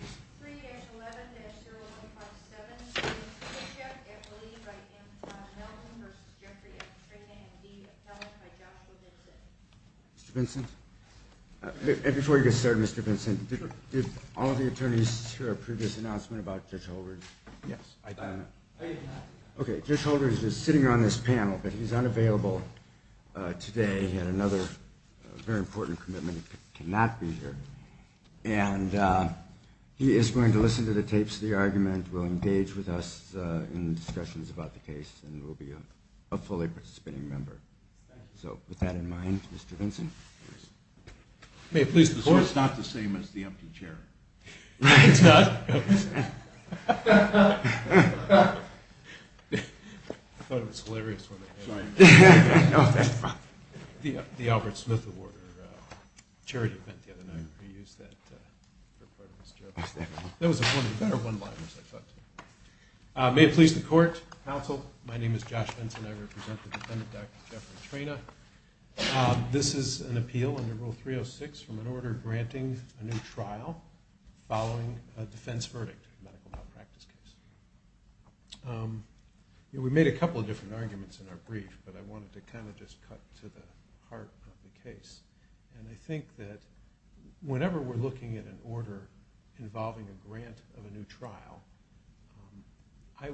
and be appellate by Joshua Vincent. Mr. Vincent? Before you get started, Mr. Vincent, did all of the attorneys hear our previous announcement about Judge Holder? Yes. Okay, Judge Holder is just sitting on this panel, but he's unavailable today. He had another very important commitment. He cannot be here. And he is going to listen to the tapes of the argument, will engage with us in discussions about the case, and will be a fully participating member. So with that in mind, Mr. Vincent. So it's not the same as the empty chair. It's not? I thought it was hilarious when the Albert Smith Award or charity event the other night reused that for part of his jokes. That was a better one-liners, I thought. May it please the court, counsel. My name is Josh Vincent. I represent the defendant, Dr. Jeffrey Traina. This is an appeal under Rule 306 from an order granting a new trial following a defense verdict in a medical malpractice case. We made a couple of different arguments in our brief, but I wanted to kind of just cut to the heart of the case. And I think that whenever we're looking at an order involving a grant of a new trial, I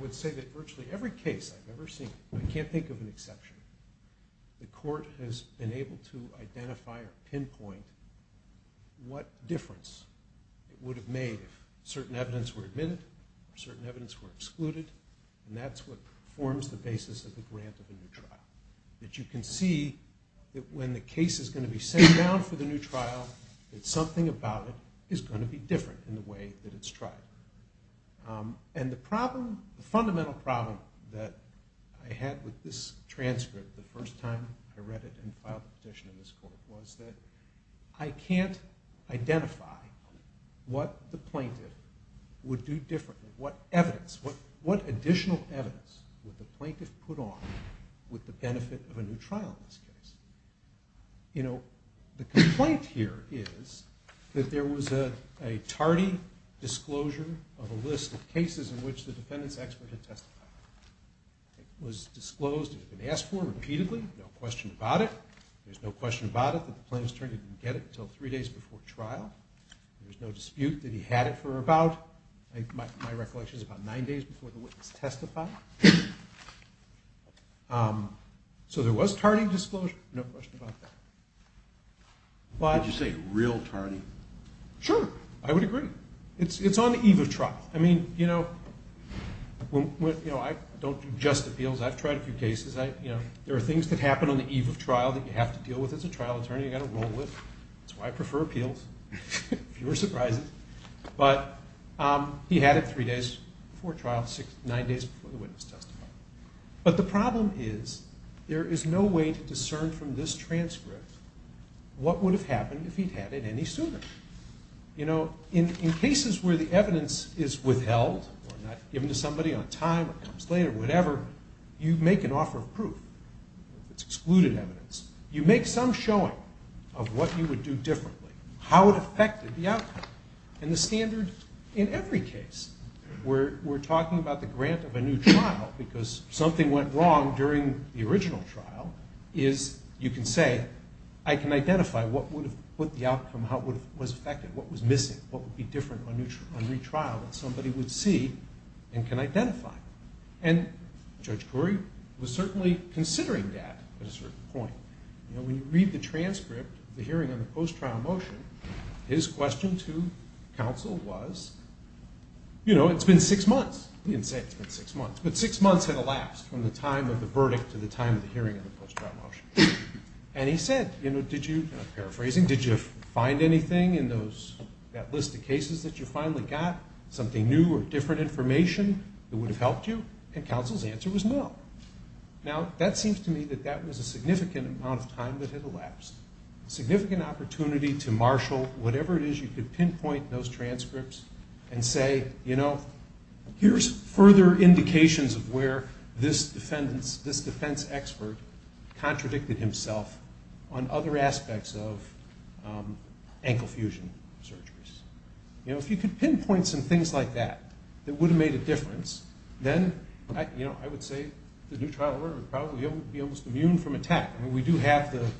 would say that virtually every case I've ever seen, I can't think of an exception. The court has been able to identify or pinpoint what difference it would have made if certain evidence were admitted or certain evidence were excluded. And that's what forms the basis of the grant of a new trial. That you can see that when the case is going to be sent down for the new trial, that something about it is going to be different in the way that it's tried. And the fundamental problem that I had with this transcript the first time I read it and filed a petition in this court was that I can't identify what the plaintiff would do differently, what additional evidence would the plaintiff put on with the benefit of a new trial in this case. The complaint here is that there was a tardy disclosure of a list of cases in which the defendant's expert had testified. It was disclosed, it had been asked for repeatedly, no question about it. There's no question about it that the plaintiff's attorney didn't get it until three days before trial. There's no dispute that he had it for about, in my recollection, about nine days before the witness testified. So there was tardy disclosure, no question about that. Would you say real tardy? Sure, I would agree. It's on the eve of trial. I mean, you know, I don't do just appeals. I've tried a few cases. There are things that happen on the eve of trial that you have to deal with as a trial attorney, you've got to roll with. That's why I prefer appeals. Fewer surprises. But he had it three days before trial, nine days before the witness testified. But the problem is there is no way to discern from this transcript what would have happened if he'd had it any sooner. You know, in cases where the evidence is withheld or not given to somebody on time or comes later, whatever, you make an offer of proof. It's excluded evidence. You make some showing of what you would do differently, how it affected the outcome. And the standard in every case where we're talking about the grant of a new trial because something went wrong during the original trial is you can say, I can identify what would have put the outcome, how it was affected, what was missing, what would be different on retrial that somebody would see and can identify. And Judge Corey was certainly considering that at a certain point. You know, when you read the transcript of the hearing on the post-trial motion, his question to counsel was, you know, it's been six months. He didn't say it's been six months, but six months had elapsed from the time of the verdict to the time of the hearing of the post-trial motion. And he said, you know, paraphrasing, did you find anything in that list of cases that you finally got? Something new or different information that would have helped you? And counsel's answer was no. Now, that seems to me that that was a significant amount of time that had elapsed. A significant opportunity to marshal whatever it is you could pinpoint in those transcripts and say, you know, here's further indications of where this defense expert contradicted himself on other aspects of ankle fusion surgeries. You know, if you could pinpoint some things like that that would have made a difference, then, you know, I would say the new trial order would probably be almost immune from attack. I mean, we do have the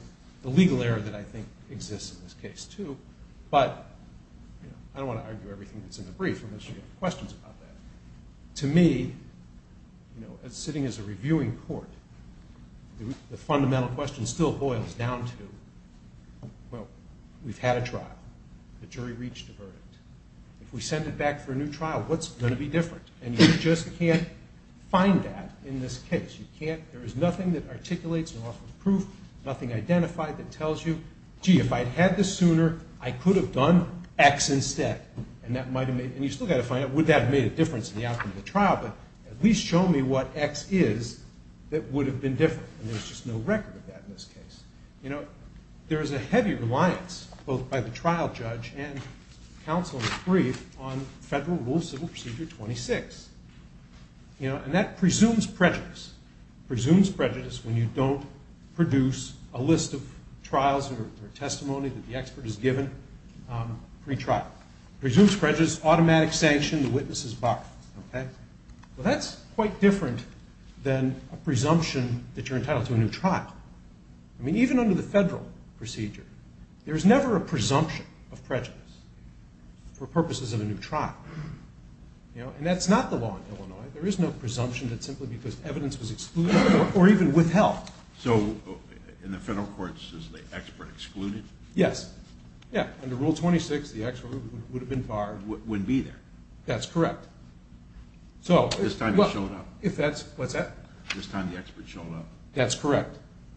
legal error that I think exists in this case, too. But I don't want to argue everything that's in the brief unless you have questions about that. To me, you know, sitting as a reviewing court, the fundamental question still boils down to, well, we've had a trial. The jury reached a verdict. If we send it back for a new trial, what's going to be different? And you just can't find that in this case. You can't. There is nothing that articulates or offers proof, nothing identified that tells you, gee, if I'd had this sooner, I could have done X instead. And that might have made – and you've still got to find out would that have made a difference in the outcome of the trial, but at least show me what X is that would have been different. And there's just no record of that in this case. You know, there is a heavy reliance both by the trial judge and counsel in the brief on Federal Rule of Civil Procedure 26. And that presumes prejudice, presumes prejudice when you don't produce a list of trials or testimony that the expert has given pretrial. It presumes prejudice, automatic sanction, the witness is barred. Well, that's quite different than a presumption that you're entitled to a new trial. I mean, even under the federal procedure, there is never a presumption of prejudice for purposes of a new trial. And that's not the law in Illinois. There is no presumption that simply because evidence was excluded or even withheld. So in the federal courts, is the expert excluded? Yes. Yeah. Under Rule 26, the expert would have been barred. Wouldn't be there. That's correct. So – This time it showed up. If that's – what's that? This time the expert showed up. That's correct.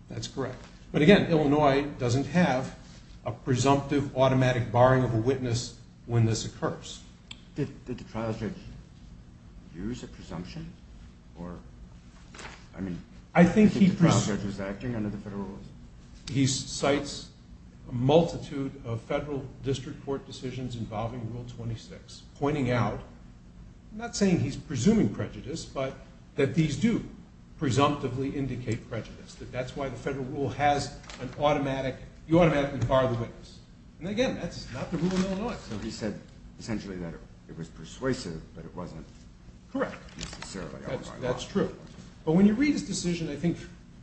That's correct. But again, Illinois doesn't have a presumptive automatic barring of a witness when this occurs. Did the trial judge use a presumption or – I mean – I think he – I think the trial judge was acting under the federal rules. He cites a multitude of federal district court decisions involving Rule 26, pointing out – that that's why the federal rule has an automatic – you automatically bar the witness. And again, that's not the rule in Illinois. So he said essentially that it was persuasive, but it wasn't necessarily – Correct. That's true. But when you read his decision, I think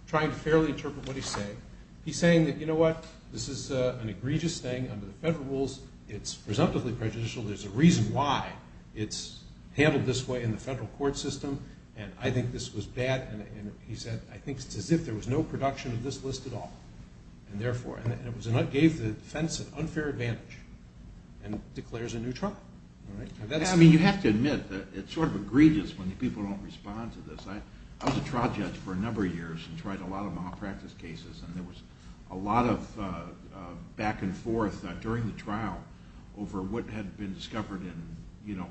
trying to fairly interpret what he's saying, he's saying that, you know what, this is an egregious thing under the federal rules. It's presumptively prejudicial. There's a reason why it's handled this way in the federal court system. And I think this was bad. And he said, I think it's as if there was no production of this list at all. And therefore – and it gave the defense an unfair advantage and declares a new trial. I mean, you have to admit that it's sort of egregious when people don't respond to this. I was a trial judge for a number of years and tried a lot of malpractice cases. And there was a lot of back and forth during the trial over what had been discovered in, you know,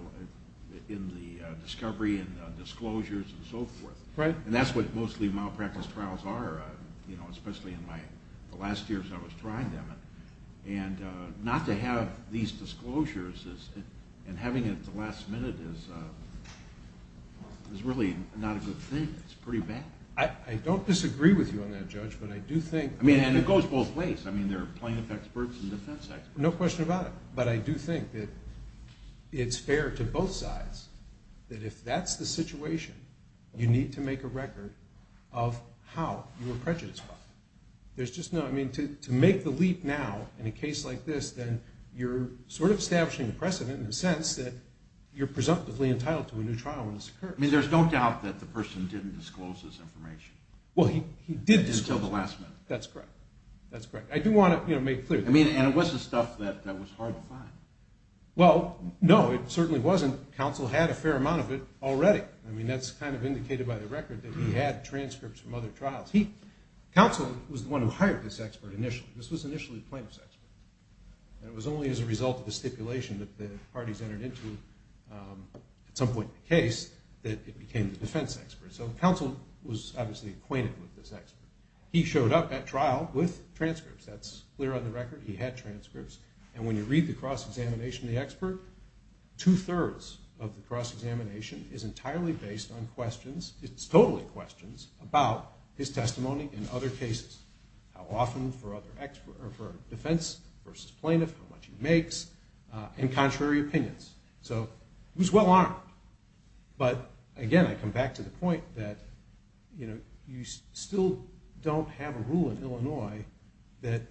in the discovery and disclosures and so forth. Right. And that's what mostly malpractice trials are, you know, especially in the last years I was trying them. And not to have these disclosures and having it at the last minute is really not a good thing. It's pretty bad. I don't disagree with you on that, Judge, but I do think – I mean, and it goes both ways. I mean, there are plaintiff experts and defense experts. No question about it. But I do think that it's fair to both sides that if that's the situation, you need to make a record of how you were prejudiced about it. There's just no – I mean, to make the leap now in a case like this, then you're sort of establishing a precedent in the sense that you're presumptively entitled to a new trial when this occurs. I mean, there's no doubt that the person didn't disclose this information. Well, he did disclose it. Until the last minute. That's correct. That's correct. I do want to, you know, make clear. I mean, and it was the stuff that was hard to find. Well, no, it certainly wasn't. Counsel had a fair amount of it already. I mean, that's kind of indicated by the record that he had transcripts from other trials. He – Counsel was the one who hired this expert initially. This was initially the plaintiff's expert. And it was only as a result of the stipulation that the parties entered into, at some point in the case, that it became the defense expert. So Counsel was obviously acquainted with this expert. He showed up at trial with transcripts. That's clear on the record. He had transcripts. And when you read the cross-examination of the expert, two-thirds of the cross-examination is entirely based on questions. It's totally questions about his testimony in other cases, how often for defense versus plaintiff, how much he makes, and contrary opinions. So he was well-armed. But, again, I come back to the point that, you know, you still don't have a rule in Illinois that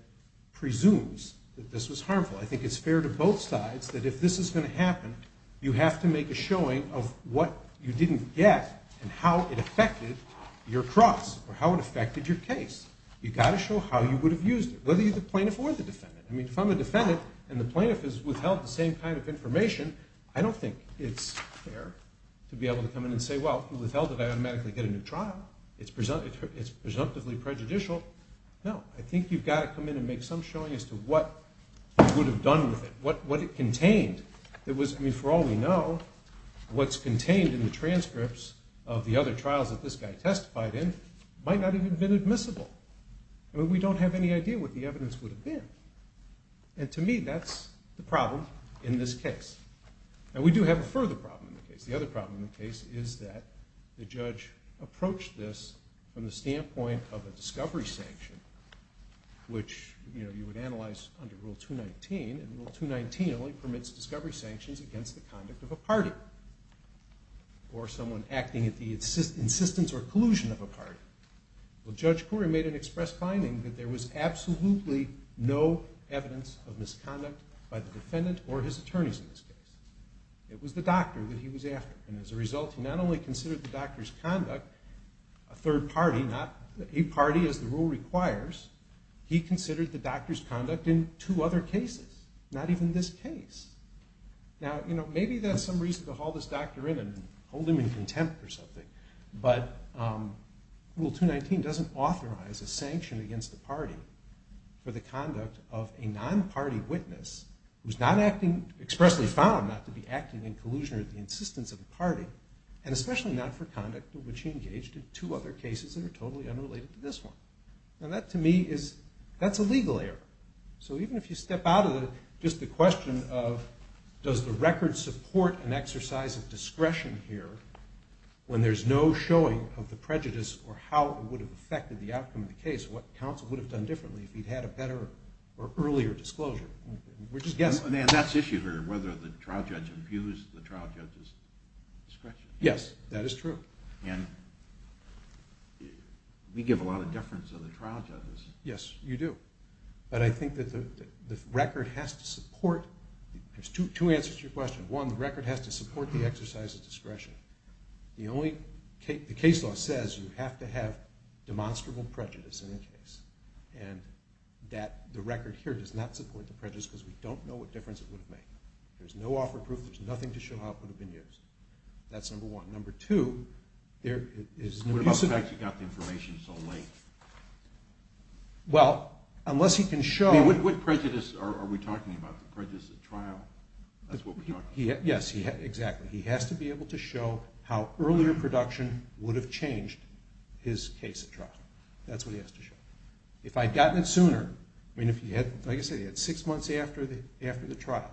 presumes that this was harmful. I think it's fair to both sides that if this is going to happen, you have to make a showing of what you didn't get and how it affected your cross or how it affected your case. You've got to show how you would have used it, whether you're the plaintiff or the defendant. I mean, if I'm the defendant and the plaintiff has withheld the same kind of information, I don't think it's fair to be able to come in and say, well, he withheld it. I automatically get a new trial. It's presumptively prejudicial. No, I think you've got to come in and make some showing as to what you would have done with it, what it contained. I mean, for all we know, what's contained in the transcripts of the other trials that this guy testified in might not have even been admissible. I mean, we don't have any idea what the evidence would have been. And to me, that's the problem in this case. And we do have a further problem in the case. The other problem in the case is that the judge approached this from the standpoint of a discovery sanction, which you would analyze under Rule 219, and Rule 219 only permits discovery sanctions against the conduct of a party or someone acting at the insistence or collusion of a party. Well, Judge Coury made an express finding that there was absolutely no evidence of misconduct by the defendant or his attorneys in this case. It was the doctor that he was after. And as a result, he not only considered the doctor's conduct a third party, not a party as the rule requires. He considered the doctor's conduct in two other cases, not even this case. Now, you know, maybe that's some reason to haul this doctor in and hold him in contempt or something. But Rule 219 doesn't authorize a sanction against a party for the conduct of a non-party witness who's not acting, expressly found not to be acting in collusion or the insistence of a party, and especially not for conduct in which he engaged in two other cases that are totally unrelated to this one. Now, that to me is, that's a legal error. So even if you step out of just the question of does the record support an exercise of discretion here when there's no showing of the prejudice or how it would have affected the outcome of the case, what counsel would have done differently if he'd had a better or earlier disclosure. We're just guessing. And that's issue here, whether the trial judge abused the trial judge's discretion. Yes, that is true. And we give a lot of deference to the trial judges. Yes, you do. But I think that the record has to support, there's two answers to your question. One, the record has to support the exercise of discretion. The case law says you have to have demonstrable prejudice in a case, and that the record here does not support the prejudice because we don't know what difference it would have made. There's no offer of proof. There's nothing to show how it would have been used. That's number one. Number two, there is no use of it. What about the fact he got the information so late? Well, unless he can show. What prejudice are we talking about? Prejudice at trial, that's what we're talking about. Yes, exactly. He has to be able to show how earlier production would have changed his case at trial. That's what he has to show. If I had gotten it sooner, I mean, like I said, he had six months after the trial,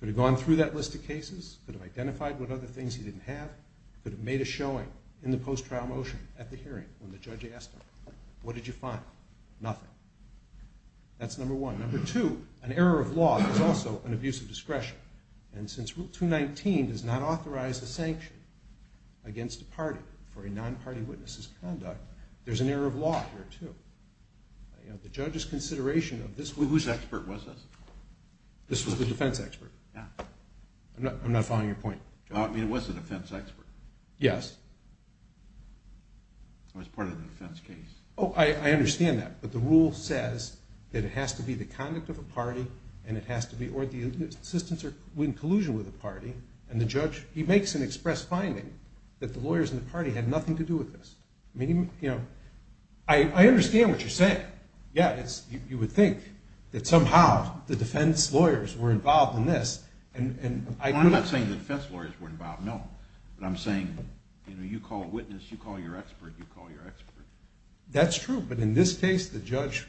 could have gone through that list of cases, could have identified what other things he didn't have, could have made a showing in the post-trial motion at the hearing when the judge asked him, what did you find? Nothing. That's number one. Number two, an error of law is also an abuse of discretion. And since Rule 219 does not authorize a sanction against a party for a non-party witness' conduct, there's an error of law here, too. The judge's consideration of this— Whose expert was this? This was the defense expert. I'm not following your point. It was the defense expert. Yes. It was part of the defense case. Oh, I understand that. But the rule says that it has to be the conduct of a party or the assistance or collusion with a party, and the judge makes an express finding that the lawyers in the party had nothing to do with this. I mean, you know, I understand what you're saying. Yeah, you would think that somehow the defense lawyers were involved in this. Well, I'm not saying the defense lawyers were involved, no. But I'm saying, you know, you call a witness, you call your expert, you call your expert. That's true, but in this case, the judge,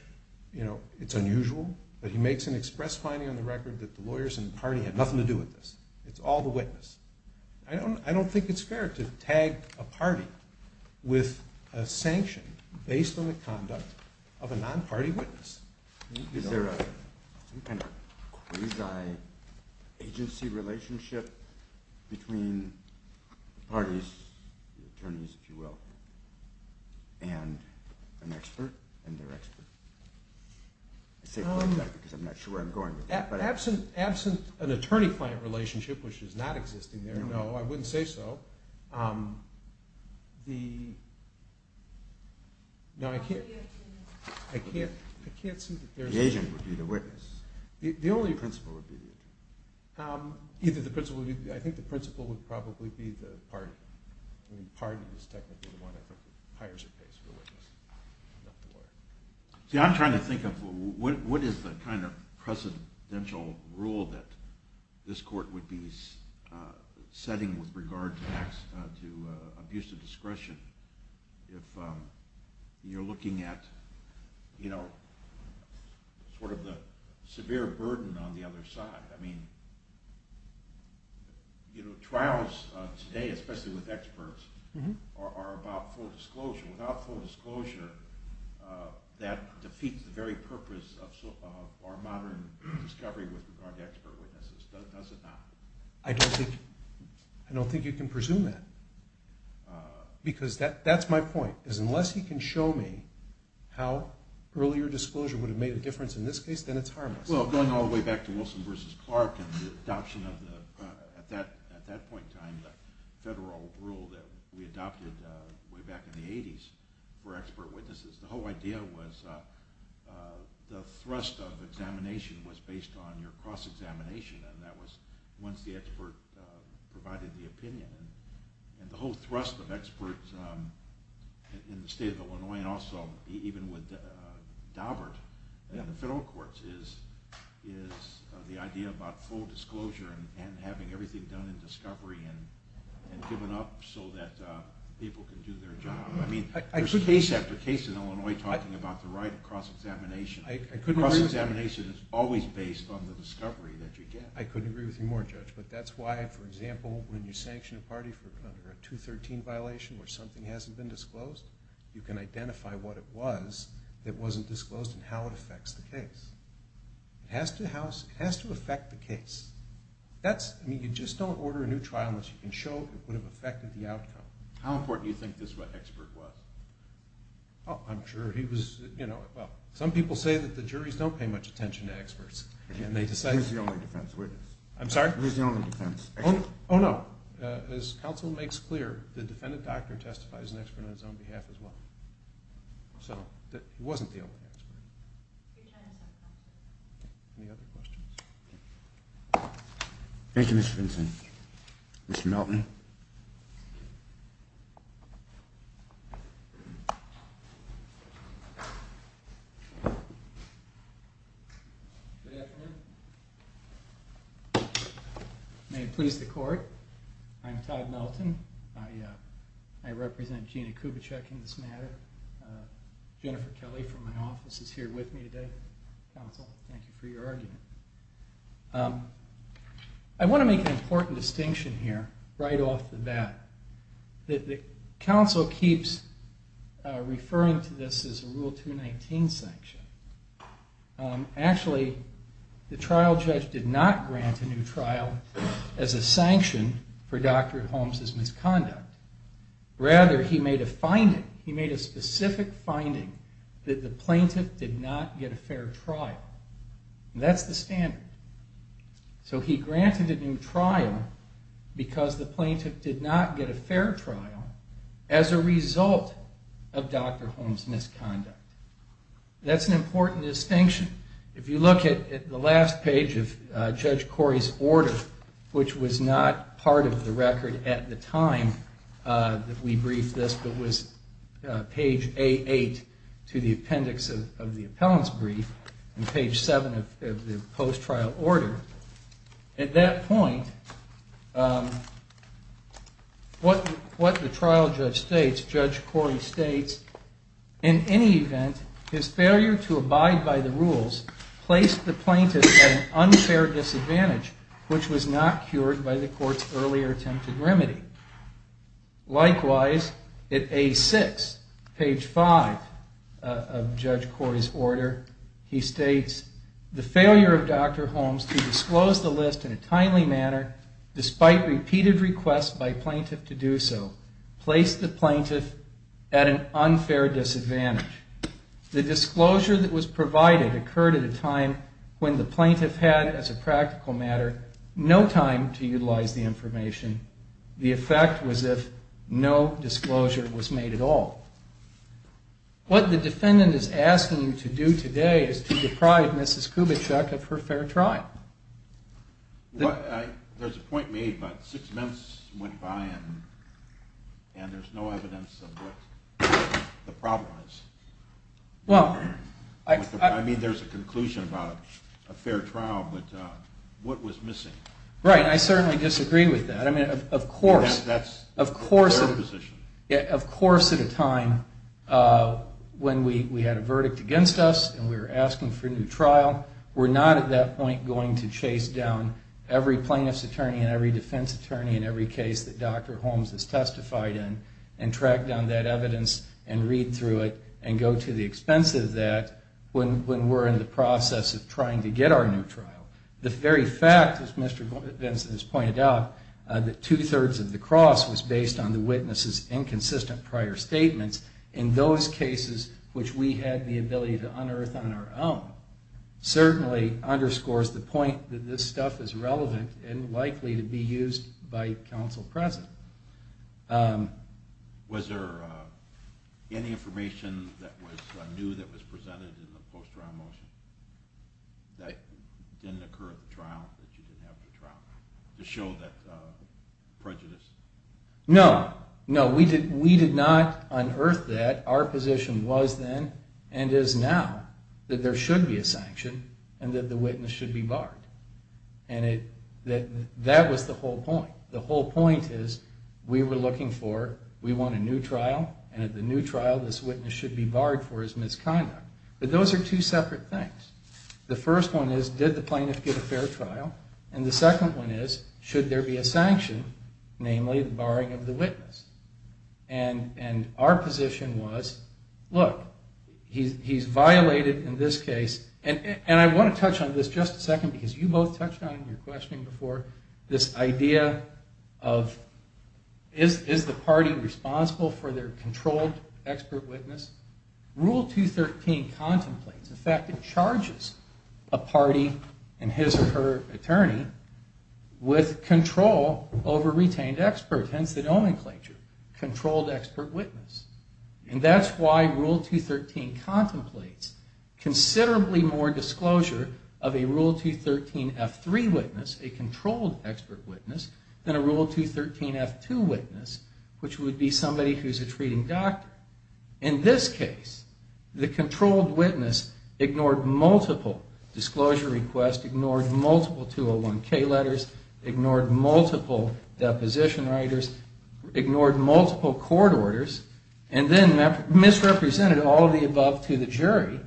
you know, it's unusual, but he makes an express finding on the record that the lawyers in the party had nothing to do with this. It's all the witness. I don't think it's fair to tag a party with a sanction based on the conduct of a non-party witness. Is there some kind of quasi-agency relationship between parties, attorneys, if you will, and an expert and their expert? I say quasi because I'm not sure where I'm going with that. Absent an attorney-client relationship, which is not existing there, no, I wouldn't say so. The, no, I can't, I can't, I can't see that there's... The agent would be the witness. The only... The principal would be the agent. Either the principal, I think the principal would probably be the party. I mean, the party is technically the one that hires or pays for the witness, not the lawyer. See, I'm trying to think of what is the kind of presidential rule that this court would be setting with regard to abuse of discretion if you're looking at, you know, sort of the severe burden on the other side. I mean, you know, trials today, especially with experts, are about full disclosure. That defeats the very purpose of our modern discovery with regard to expert witnesses, does it not? I don't think, I don't think you can presume that, because that's my point, is unless you can show me how earlier disclosure would have made a difference in this case, then it's harmless. Well, going all the way back to Wilson v. Clark and the adoption of the, at that point in time, the federal rule that we adopted way back in the 80s for expert witnesses, the whole idea was the thrust of examination was based on your cross-examination, and that was once the expert provided the opinion. And the whole thrust of experts in the state of Illinois, and also even with Daubert and the federal courts, is the idea about full disclosure and having everything done in discovery and given up so that people can do their job. I mean, there's case after case in Illinois talking about the right of cross-examination. Cross-examination is always based on the discovery that you get. I couldn't agree with you more, Judge, but that's why, for example, when you sanction a party for a 213 violation where something hasn't been disclosed, you can identify what it was that wasn't disclosed and how it affects the case. It has to affect the case. I mean, you just don't order a new trial unless you can show it would have affected the outcome. How important do you think this expert was? Oh, I'm sure he was, you know, well, some people say that the juries don't pay much attention to experts. Who's the only defense witness? I'm sorry? Who's the only defense expert? Oh, no. As counsel makes clear, the defendant doctor testifies as an expert on his own behalf as well. So he wasn't the only expert. Any other questions? Thank you, Mr. Benson. Mr. Melton. Good afternoon. May it please the Court. I'm Todd Melton. I represent Gina Kubitschek in this matter. Jennifer Kelly from my office is here with me today. Counsel, thank you for your argument. I want to make an important distinction here right off the bat. The counsel keeps referring to this as a Rule 219 sanction. Actually, the trial judge did not grant a new trial as a sanction for Dr. Holmes' misconduct. Rather, he made a finding, he made a specific finding that the plaintiff did not get a fair trial. That's the standard. So he granted a new trial because the plaintiff did not get a fair trial as a result of Dr. Holmes' misconduct. That's an important distinction. If you look at the last page of Judge Corey's order, which was not part of the record at the time that we briefed this, but was page A8 to the appendix of the appellant's brief and page 7 of the post-trial order, at that point, what the trial judge states, Judge Corey states, in any event, his failure to abide by the rules placed the plaintiff at an unfair disadvantage, which was not cured by the court's earlier attempted remedy. Likewise, at A6, page 5 of Judge Corey's order, he states, the failure of Dr. Holmes to disclose the list in a timely manner, despite repeated requests by plaintiff to do so, placed the plaintiff at an unfair disadvantage. The disclosure that was provided occurred at a time when the plaintiff had, as a practical matter, no time to utilize the information. The effect was if no disclosure was made at all. What the defendant is asking you to do today is to deprive Mrs. Kubitschek of her fair trial. There's a point made, but six months went by and there's no evidence of what the problem is. I mean, there's a conclusion about a fair trial, but what was missing? Right, and I certainly disagree with that. I mean, of course at a time when we had a verdict against us and we were asking for a new trial, we're not at that point going to chase down every plaintiff's attorney and every defense attorney and every case that Dr. Holmes has testified in and track down that evidence and read through it and go to the expense of that when we're in the process of trying to get our new trial. The very fact, as Mr. Benson has pointed out, that two-thirds of the cross was based on the witness's inconsistent prior statements in those cases which we had the ability to unearth on our own certainly underscores the point that this stuff is relevant and likely to be used by counsel present. Was there any information that was new that was presented in the post-trial motion that didn't occur at the trial that you didn't have to trial to show that prejudice? No, no, we did not unearth that. Our position was then and is now that there should be a sanction and that the witness should be barred. And that was the whole point. The whole point is we were looking for, we want a new trial and at the new trial this witness should be barred for his misconduct. But those are two separate things. The first one is, did the plaintiff get a fair trial? And the second one is, should there be a sanction, namely the barring of the witness? And our position was, look, he's violated in this case, and I want to touch on this just a second because you both touched on it in your questioning before, this idea of is the party responsible for their controlled expert witness? Rule 213 contemplates, in fact, it charges a party and his or her attorney with control over retained experts, hence the nomenclature, controlled expert witness. And that's why Rule 213 contemplates considerably more disclosure of a Rule 213F3 witness, a controlled expert witness, than a Rule 213F2 witness, which would be somebody who's a treating doctor. In this case, the controlled witness ignored multiple disclosure requests, ignored multiple 201K letters, ignored multiple deposition writers, ignored multiple court orders, and then misrepresented all of the above to the jury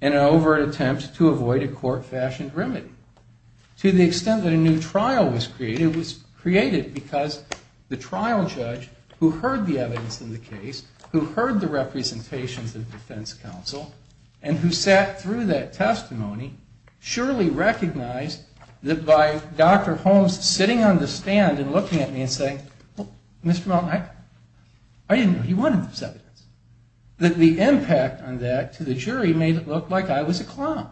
in an overt attempt to avoid a court-fashioned remedy. To the extent that a new trial was created, it was created because the trial judge who heard the evidence in the case, who heard the representations of defense counsel, and who sat through that testimony, surely recognized that by Dr. Holmes sitting on the stand and looking at me and saying, Mr. Maltin, I didn't know he wanted this evidence, that the impact on that to the jury made it look like I was a clown,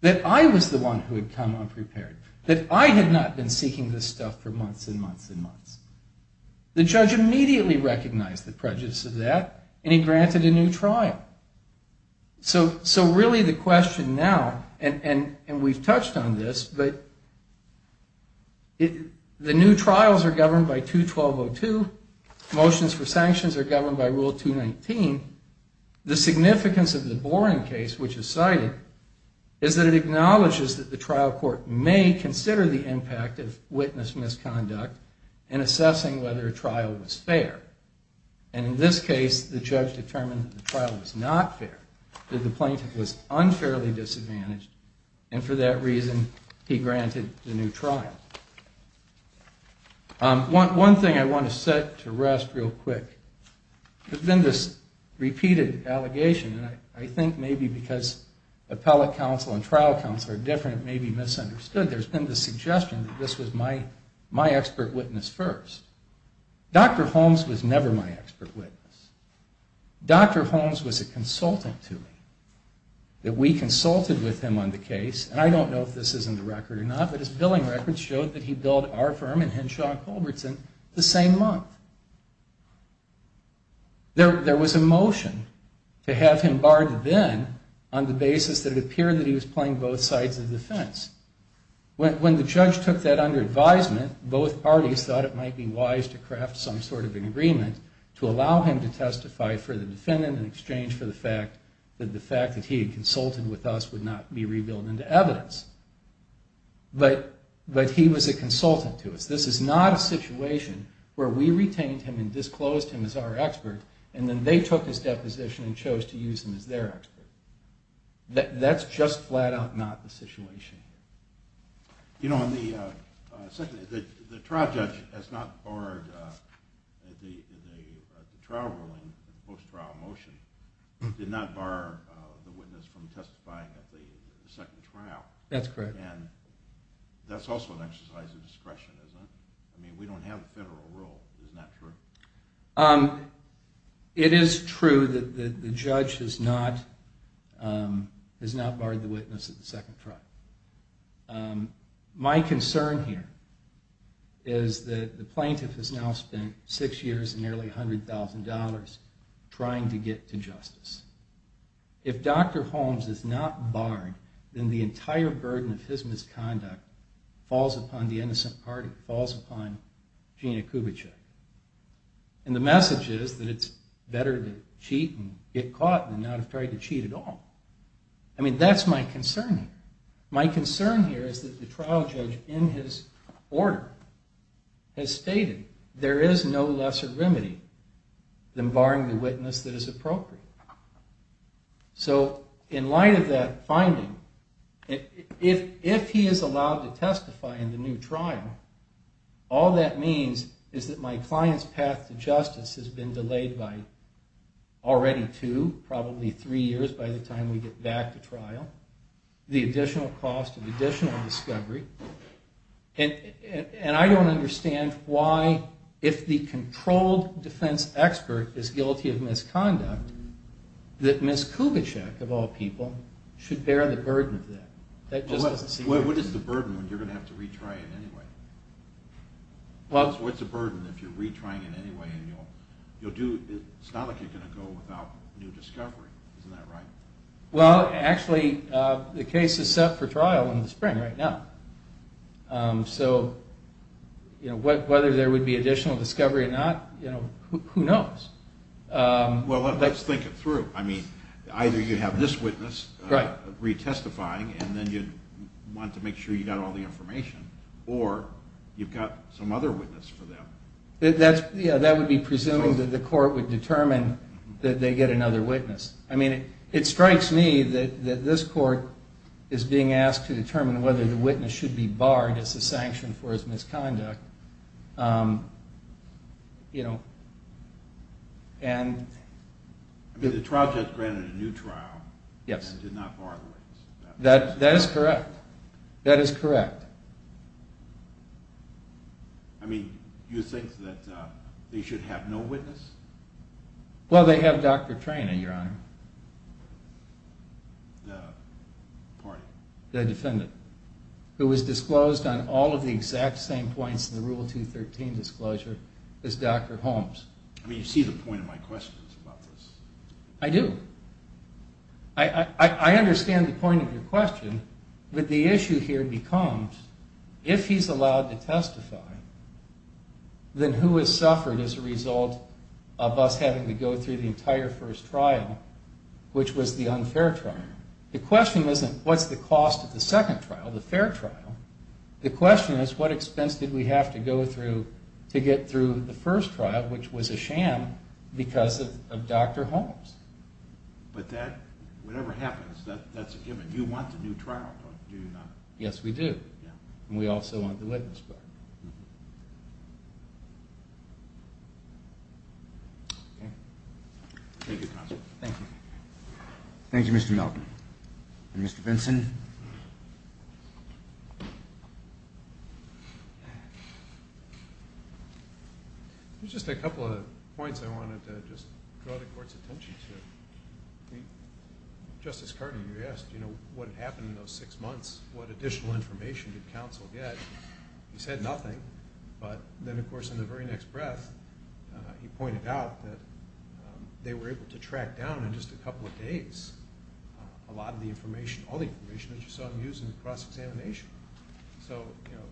that I was the one who had come unprepared, that I had not been seeking this stuff for months and months and months. The judge immediately recognized the prejudice of that, and he granted a new trial. So really the question now, and we've touched on this, but the new trials are governed by 212.02. Motions for sanctions are governed by Rule 219. The significance of the Boren case, which is cited, is that it acknowledges that the trial court may consider the impact of witness misconduct in assessing whether a trial was fair. And in this case, the judge determined that the trial was not fair, that the plaintiff was unfairly disadvantaged, and for that reason, he granted the new trial. One thing I want to set to rest real quick. There's been this repeated allegation, and I think maybe because appellate counsel and trial counsel are different, it may be misunderstood, there's been the suggestion that this was my expert witness first. Dr. Holmes was never my expert witness. Dr. Holmes was a consultant to me. That we consulted with him on the case, and I don't know if this is in the record or not, but his billing records showed that he billed our firm and Henshaw & Culbertson the same month. There was a motion to have him barred then on the basis that it appeared that he was playing both sides of the fence. When the judge took that under advisement, both parties thought it might be wise to craft some sort of an agreement to allow him to testify for the defendant in exchange for the fact that the fact that he had consulted with us would not be revealed into evidence. But he was a consultant to us. This is not a situation where we retained him and disclosed him as our expert, and then they took his deposition and chose to use him as their expert. That's just flat out not the situation. You know, the trial judge has not barred the trial ruling, the post-trial motion, did not bar the witness from testifying at the second trial. That's correct. And that's also an exercise of discretion, isn't it? I mean, we don't have a federal rule. Isn't that true? It is true that the judge has not barred the witness at the second trial. My concern here is that the plaintiff has now spent six years and nearly $100,000 trying to get to justice. If Dr. Holmes is not barred, then the entire burden of his misconduct falls upon the innocent party, or falls upon Gina Kubitschek. And the message is that it's better to cheat and get caught than not have tried to cheat at all. I mean, that's my concern here. My concern here is that the trial judge, in his order, has stated there is no lesser remedy than barring the witness that is appropriate. So, in light of that finding, if he is allowed to testify in the new trial, all that means is that my client's path to justice has been delayed by already two, probably three years by the time we get back to trial. The additional cost of additional discovery. And I don't understand why, if the controlled defense expert is guilty of misconduct, that Ms. Kubitschek, of all people, should bear the burden of that. What is the burden when you're going to have to retry it anyway? What's the burden if you're retrying it anyway? It's not like you're going to go without new discovery. Isn't that right? Well, actually, the case is set for trial in the spring right now. So, whether there would be additional discovery or not, who knows? Well, let's think it through. I mean, either you have this witness retestifying, and then you'd want to make sure you got all the information, or you've got some other witness for them. Yeah, that would be presuming that the court would determine that they get another witness. I mean, it strikes me that this court is being asked to determine whether the witness should be barred as a sanction for his misconduct. I mean, the trial judge granted a new trial and did not bar the witness. That is correct. That is correct. I mean, you think that they should have no witness? Well, they have Dr. Trena, Your Honor. The party? The defendant, who was disclosed on all of the exact same points in the Rule 213 disclosure as Dr. Holmes. I mean, you see the point of my questions about this. I do. I understand the point of your question, but the issue here becomes, if he's allowed to testify, then who has suffered as a result of us having to go through the entire first trial, which was the unfair trial? The question isn't, what's the cost of the second trial, the fair trial? The question is, what expense did we have to go through to get through the first trial, which was a sham because of Dr. Holmes? But that, whatever happens, that's a given. You want the new trial, don't you, Your Honor? Yes, we do, and we also want the witness bar. Thank you, counsel. Thank you. Thank you, Mr. Melton. Mr. Vinson? There's just a couple of points I wanted to just draw the Court's attention to. Justice Carter, you asked, you know, what had happened in those six months, what additional information did counsel get? He said nothing, but then, of course, in the very next breath, he pointed out that they were able to track down in just a couple of days a lot of the information, all the information that you saw him use in the cross-examination. So, you know,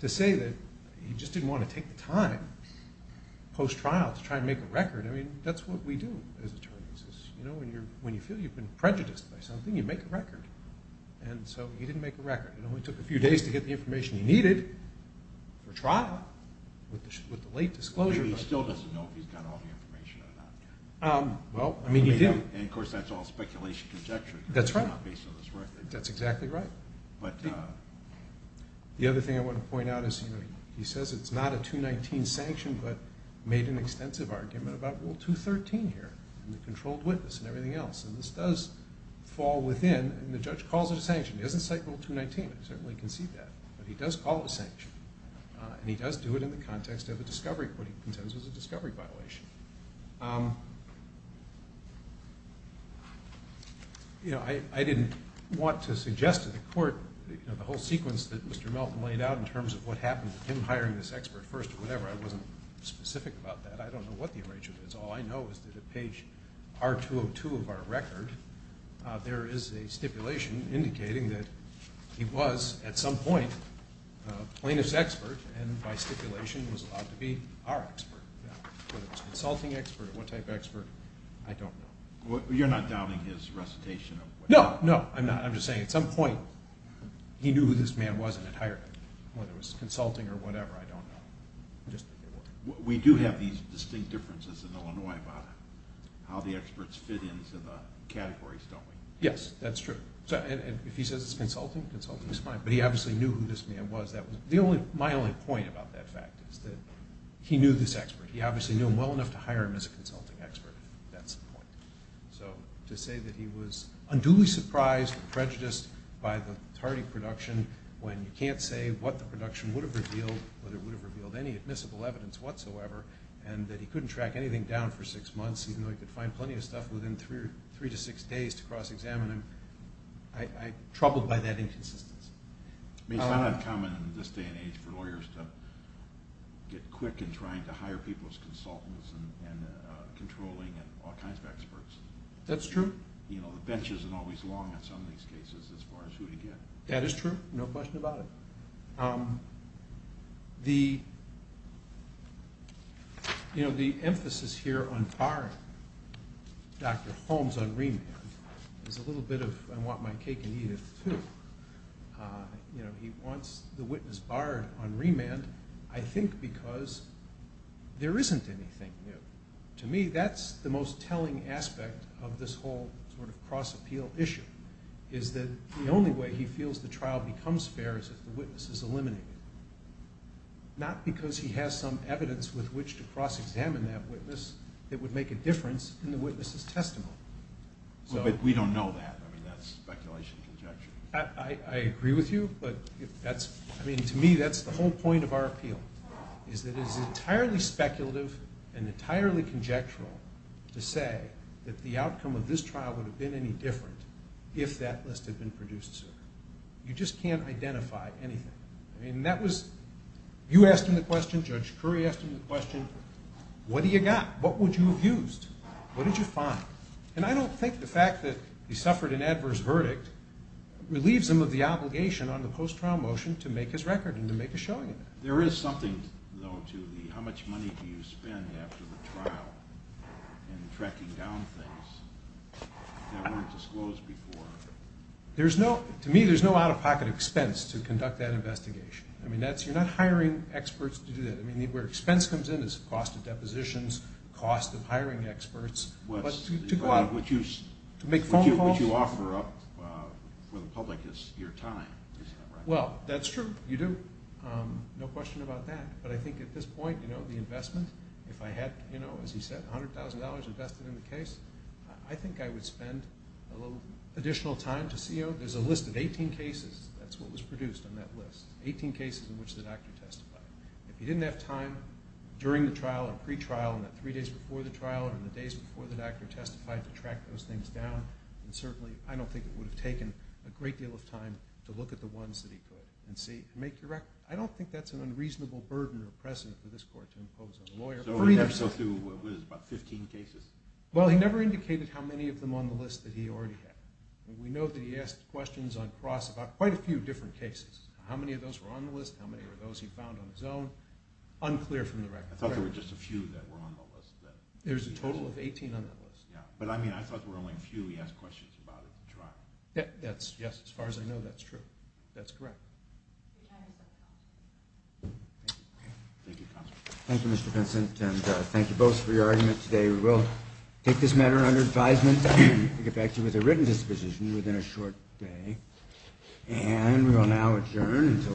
to say that he just didn't want to take the time post-trial to try and make a record, I mean, that's what we do as attorneys. You know, when you feel you've been prejudiced by something, you make a record. And so he didn't make a record. It only took a few days to get the information he needed for trial with the late disclosure. But he still doesn't know if he's got all the information or not. Well, I mean, he did. And, of course, that's all speculation, conjecture. That's right. It's not based on this record. That's exactly right. But the other thing I want to point out is he says it's not a 219 sanction, but made an extensive argument about Rule 213 here and the controlled witness and everything else. And this does fall within. And the judge calls it a sanction. He doesn't cite Rule 219. I certainly can see that. But he does call it a sanction. And he does do it in the context of a discovery court. He contends it was a discovery violation. You know, I didn't want to suggest to the court, you know, the whole sequence that Mr. Melton laid out in terms of what happened with him hiring this expert first or whatever, I wasn't specific about that. I don't know what the arrangement is. All I know is that at page R-202 of our record, there is a stipulation indicating that he was at some point a plaintiff's expert and by stipulation was allowed to be our expert. Whether it was a consulting expert or what type of expert, I don't know. You're not doubting his recitation of what happened? No, no, I'm not. I'm just saying at some point he knew who this man was and had hired him. Whether it was consulting or whatever, I don't know. We do have these distinct differences in Illinois about how the experts fit into the categories, don't we? Yes, that's true. And if he says it's consulting, consulting is fine. But he obviously knew who this man was. My only point about that fact is that he knew this expert. He obviously knew him well enough to hire him as a consulting expert, if that's the point. So to say that he was unduly surprised and prejudiced by the Tardy production when you can't say what the production would have revealed, whether it would have revealed any admissible evidence whatsoever, and that he couldn't track anything down for six months, even though he could find plenty of stuff within three to six days to cross-examine him, I'm troubled by that inconsistency. It's not uncommon in this day and age for lawyers to get quick in trying to hire people as consultants and controlling and all kinds of experts. That's true. The bench isn't always long in some of these cases as far as who to get. That is true. No question about it. The emphasis here on firing Dr. Holmes on remand is a little bit of I want my cake and eat it, too. He wants the witness barred on remand, I think, because there isn't anything new. To me, that's the most telling aspect of this whole sort of cross-appeal issue, is that the only way he feels the trial becomes fair is if the witness is eliminated, not because he has some evidence with which to cross-examine that witness that would make a difference in the witness's testimony. But we don't know that. I mean, that's speculation and conjecture. I agree with you, but, I mean, to me, that's the whole point of our appeal, is that it is entirely speculative and entirely conjectural to say that the outcome of this trial would have been any different if that list had been produced sooner. You just can't identify anything. I mean, you asked him the question, Judge Curry asked him the question, what do you got? What would you have used? What did you find? And I don't think the fact that he suffered an adverse verdict relieves him of the obligation on the post-trial motion to make his record and to make a showing of that. There is something, though, to the how much money do you spend after the trial in tracking down things that weren't disclosed before. To me, there's no out-of-pocket expense to conduct that investigation. I mean, you're not hiring experts to do that. I mean, where expense comes in is the cost of depositions, cost of hiring experts, but to go out. What you offer up for the public is your time. Well, that's true, you do. No question about that. But I think at this point, you know, the investment, if I had, you know, as he said, $100,000 invested in the case, I think I would spend a little additional time to see, you know, there's a list of 18 cases, that's what was produced on that list, 18 cases in which the doctor testified. If he didn't have time during the trial and pre-trial and the three days before the trial and the days before the doctor testified to track those things down, then certainly I don't think it would have taken a great deal of time to look at the ones that he could and see, make your record. I don't think that's an unreasonable burden or precedent for this court to impose on a lawyer. So we never saw through, what is it, about 15 cases? Well, he never indicated how many of them on the list that he already had. We know that he asked questions on cross about quite a few different cases. How many of those were on the list? How many were those he found on his own? Unclear from the record. I thought there were just a few that were on the list. There's a total of 18 on that list. Yeah, but I mean, I thought there were only a few he asked questions about at the trial. Yes, as far as I know, that's true. That's correct. Thank you, Mr. Vincent, and thank you both for your argument today. We will take this matter under advisement to get back to you with a written disposition within a short day. And we will now adjourn until…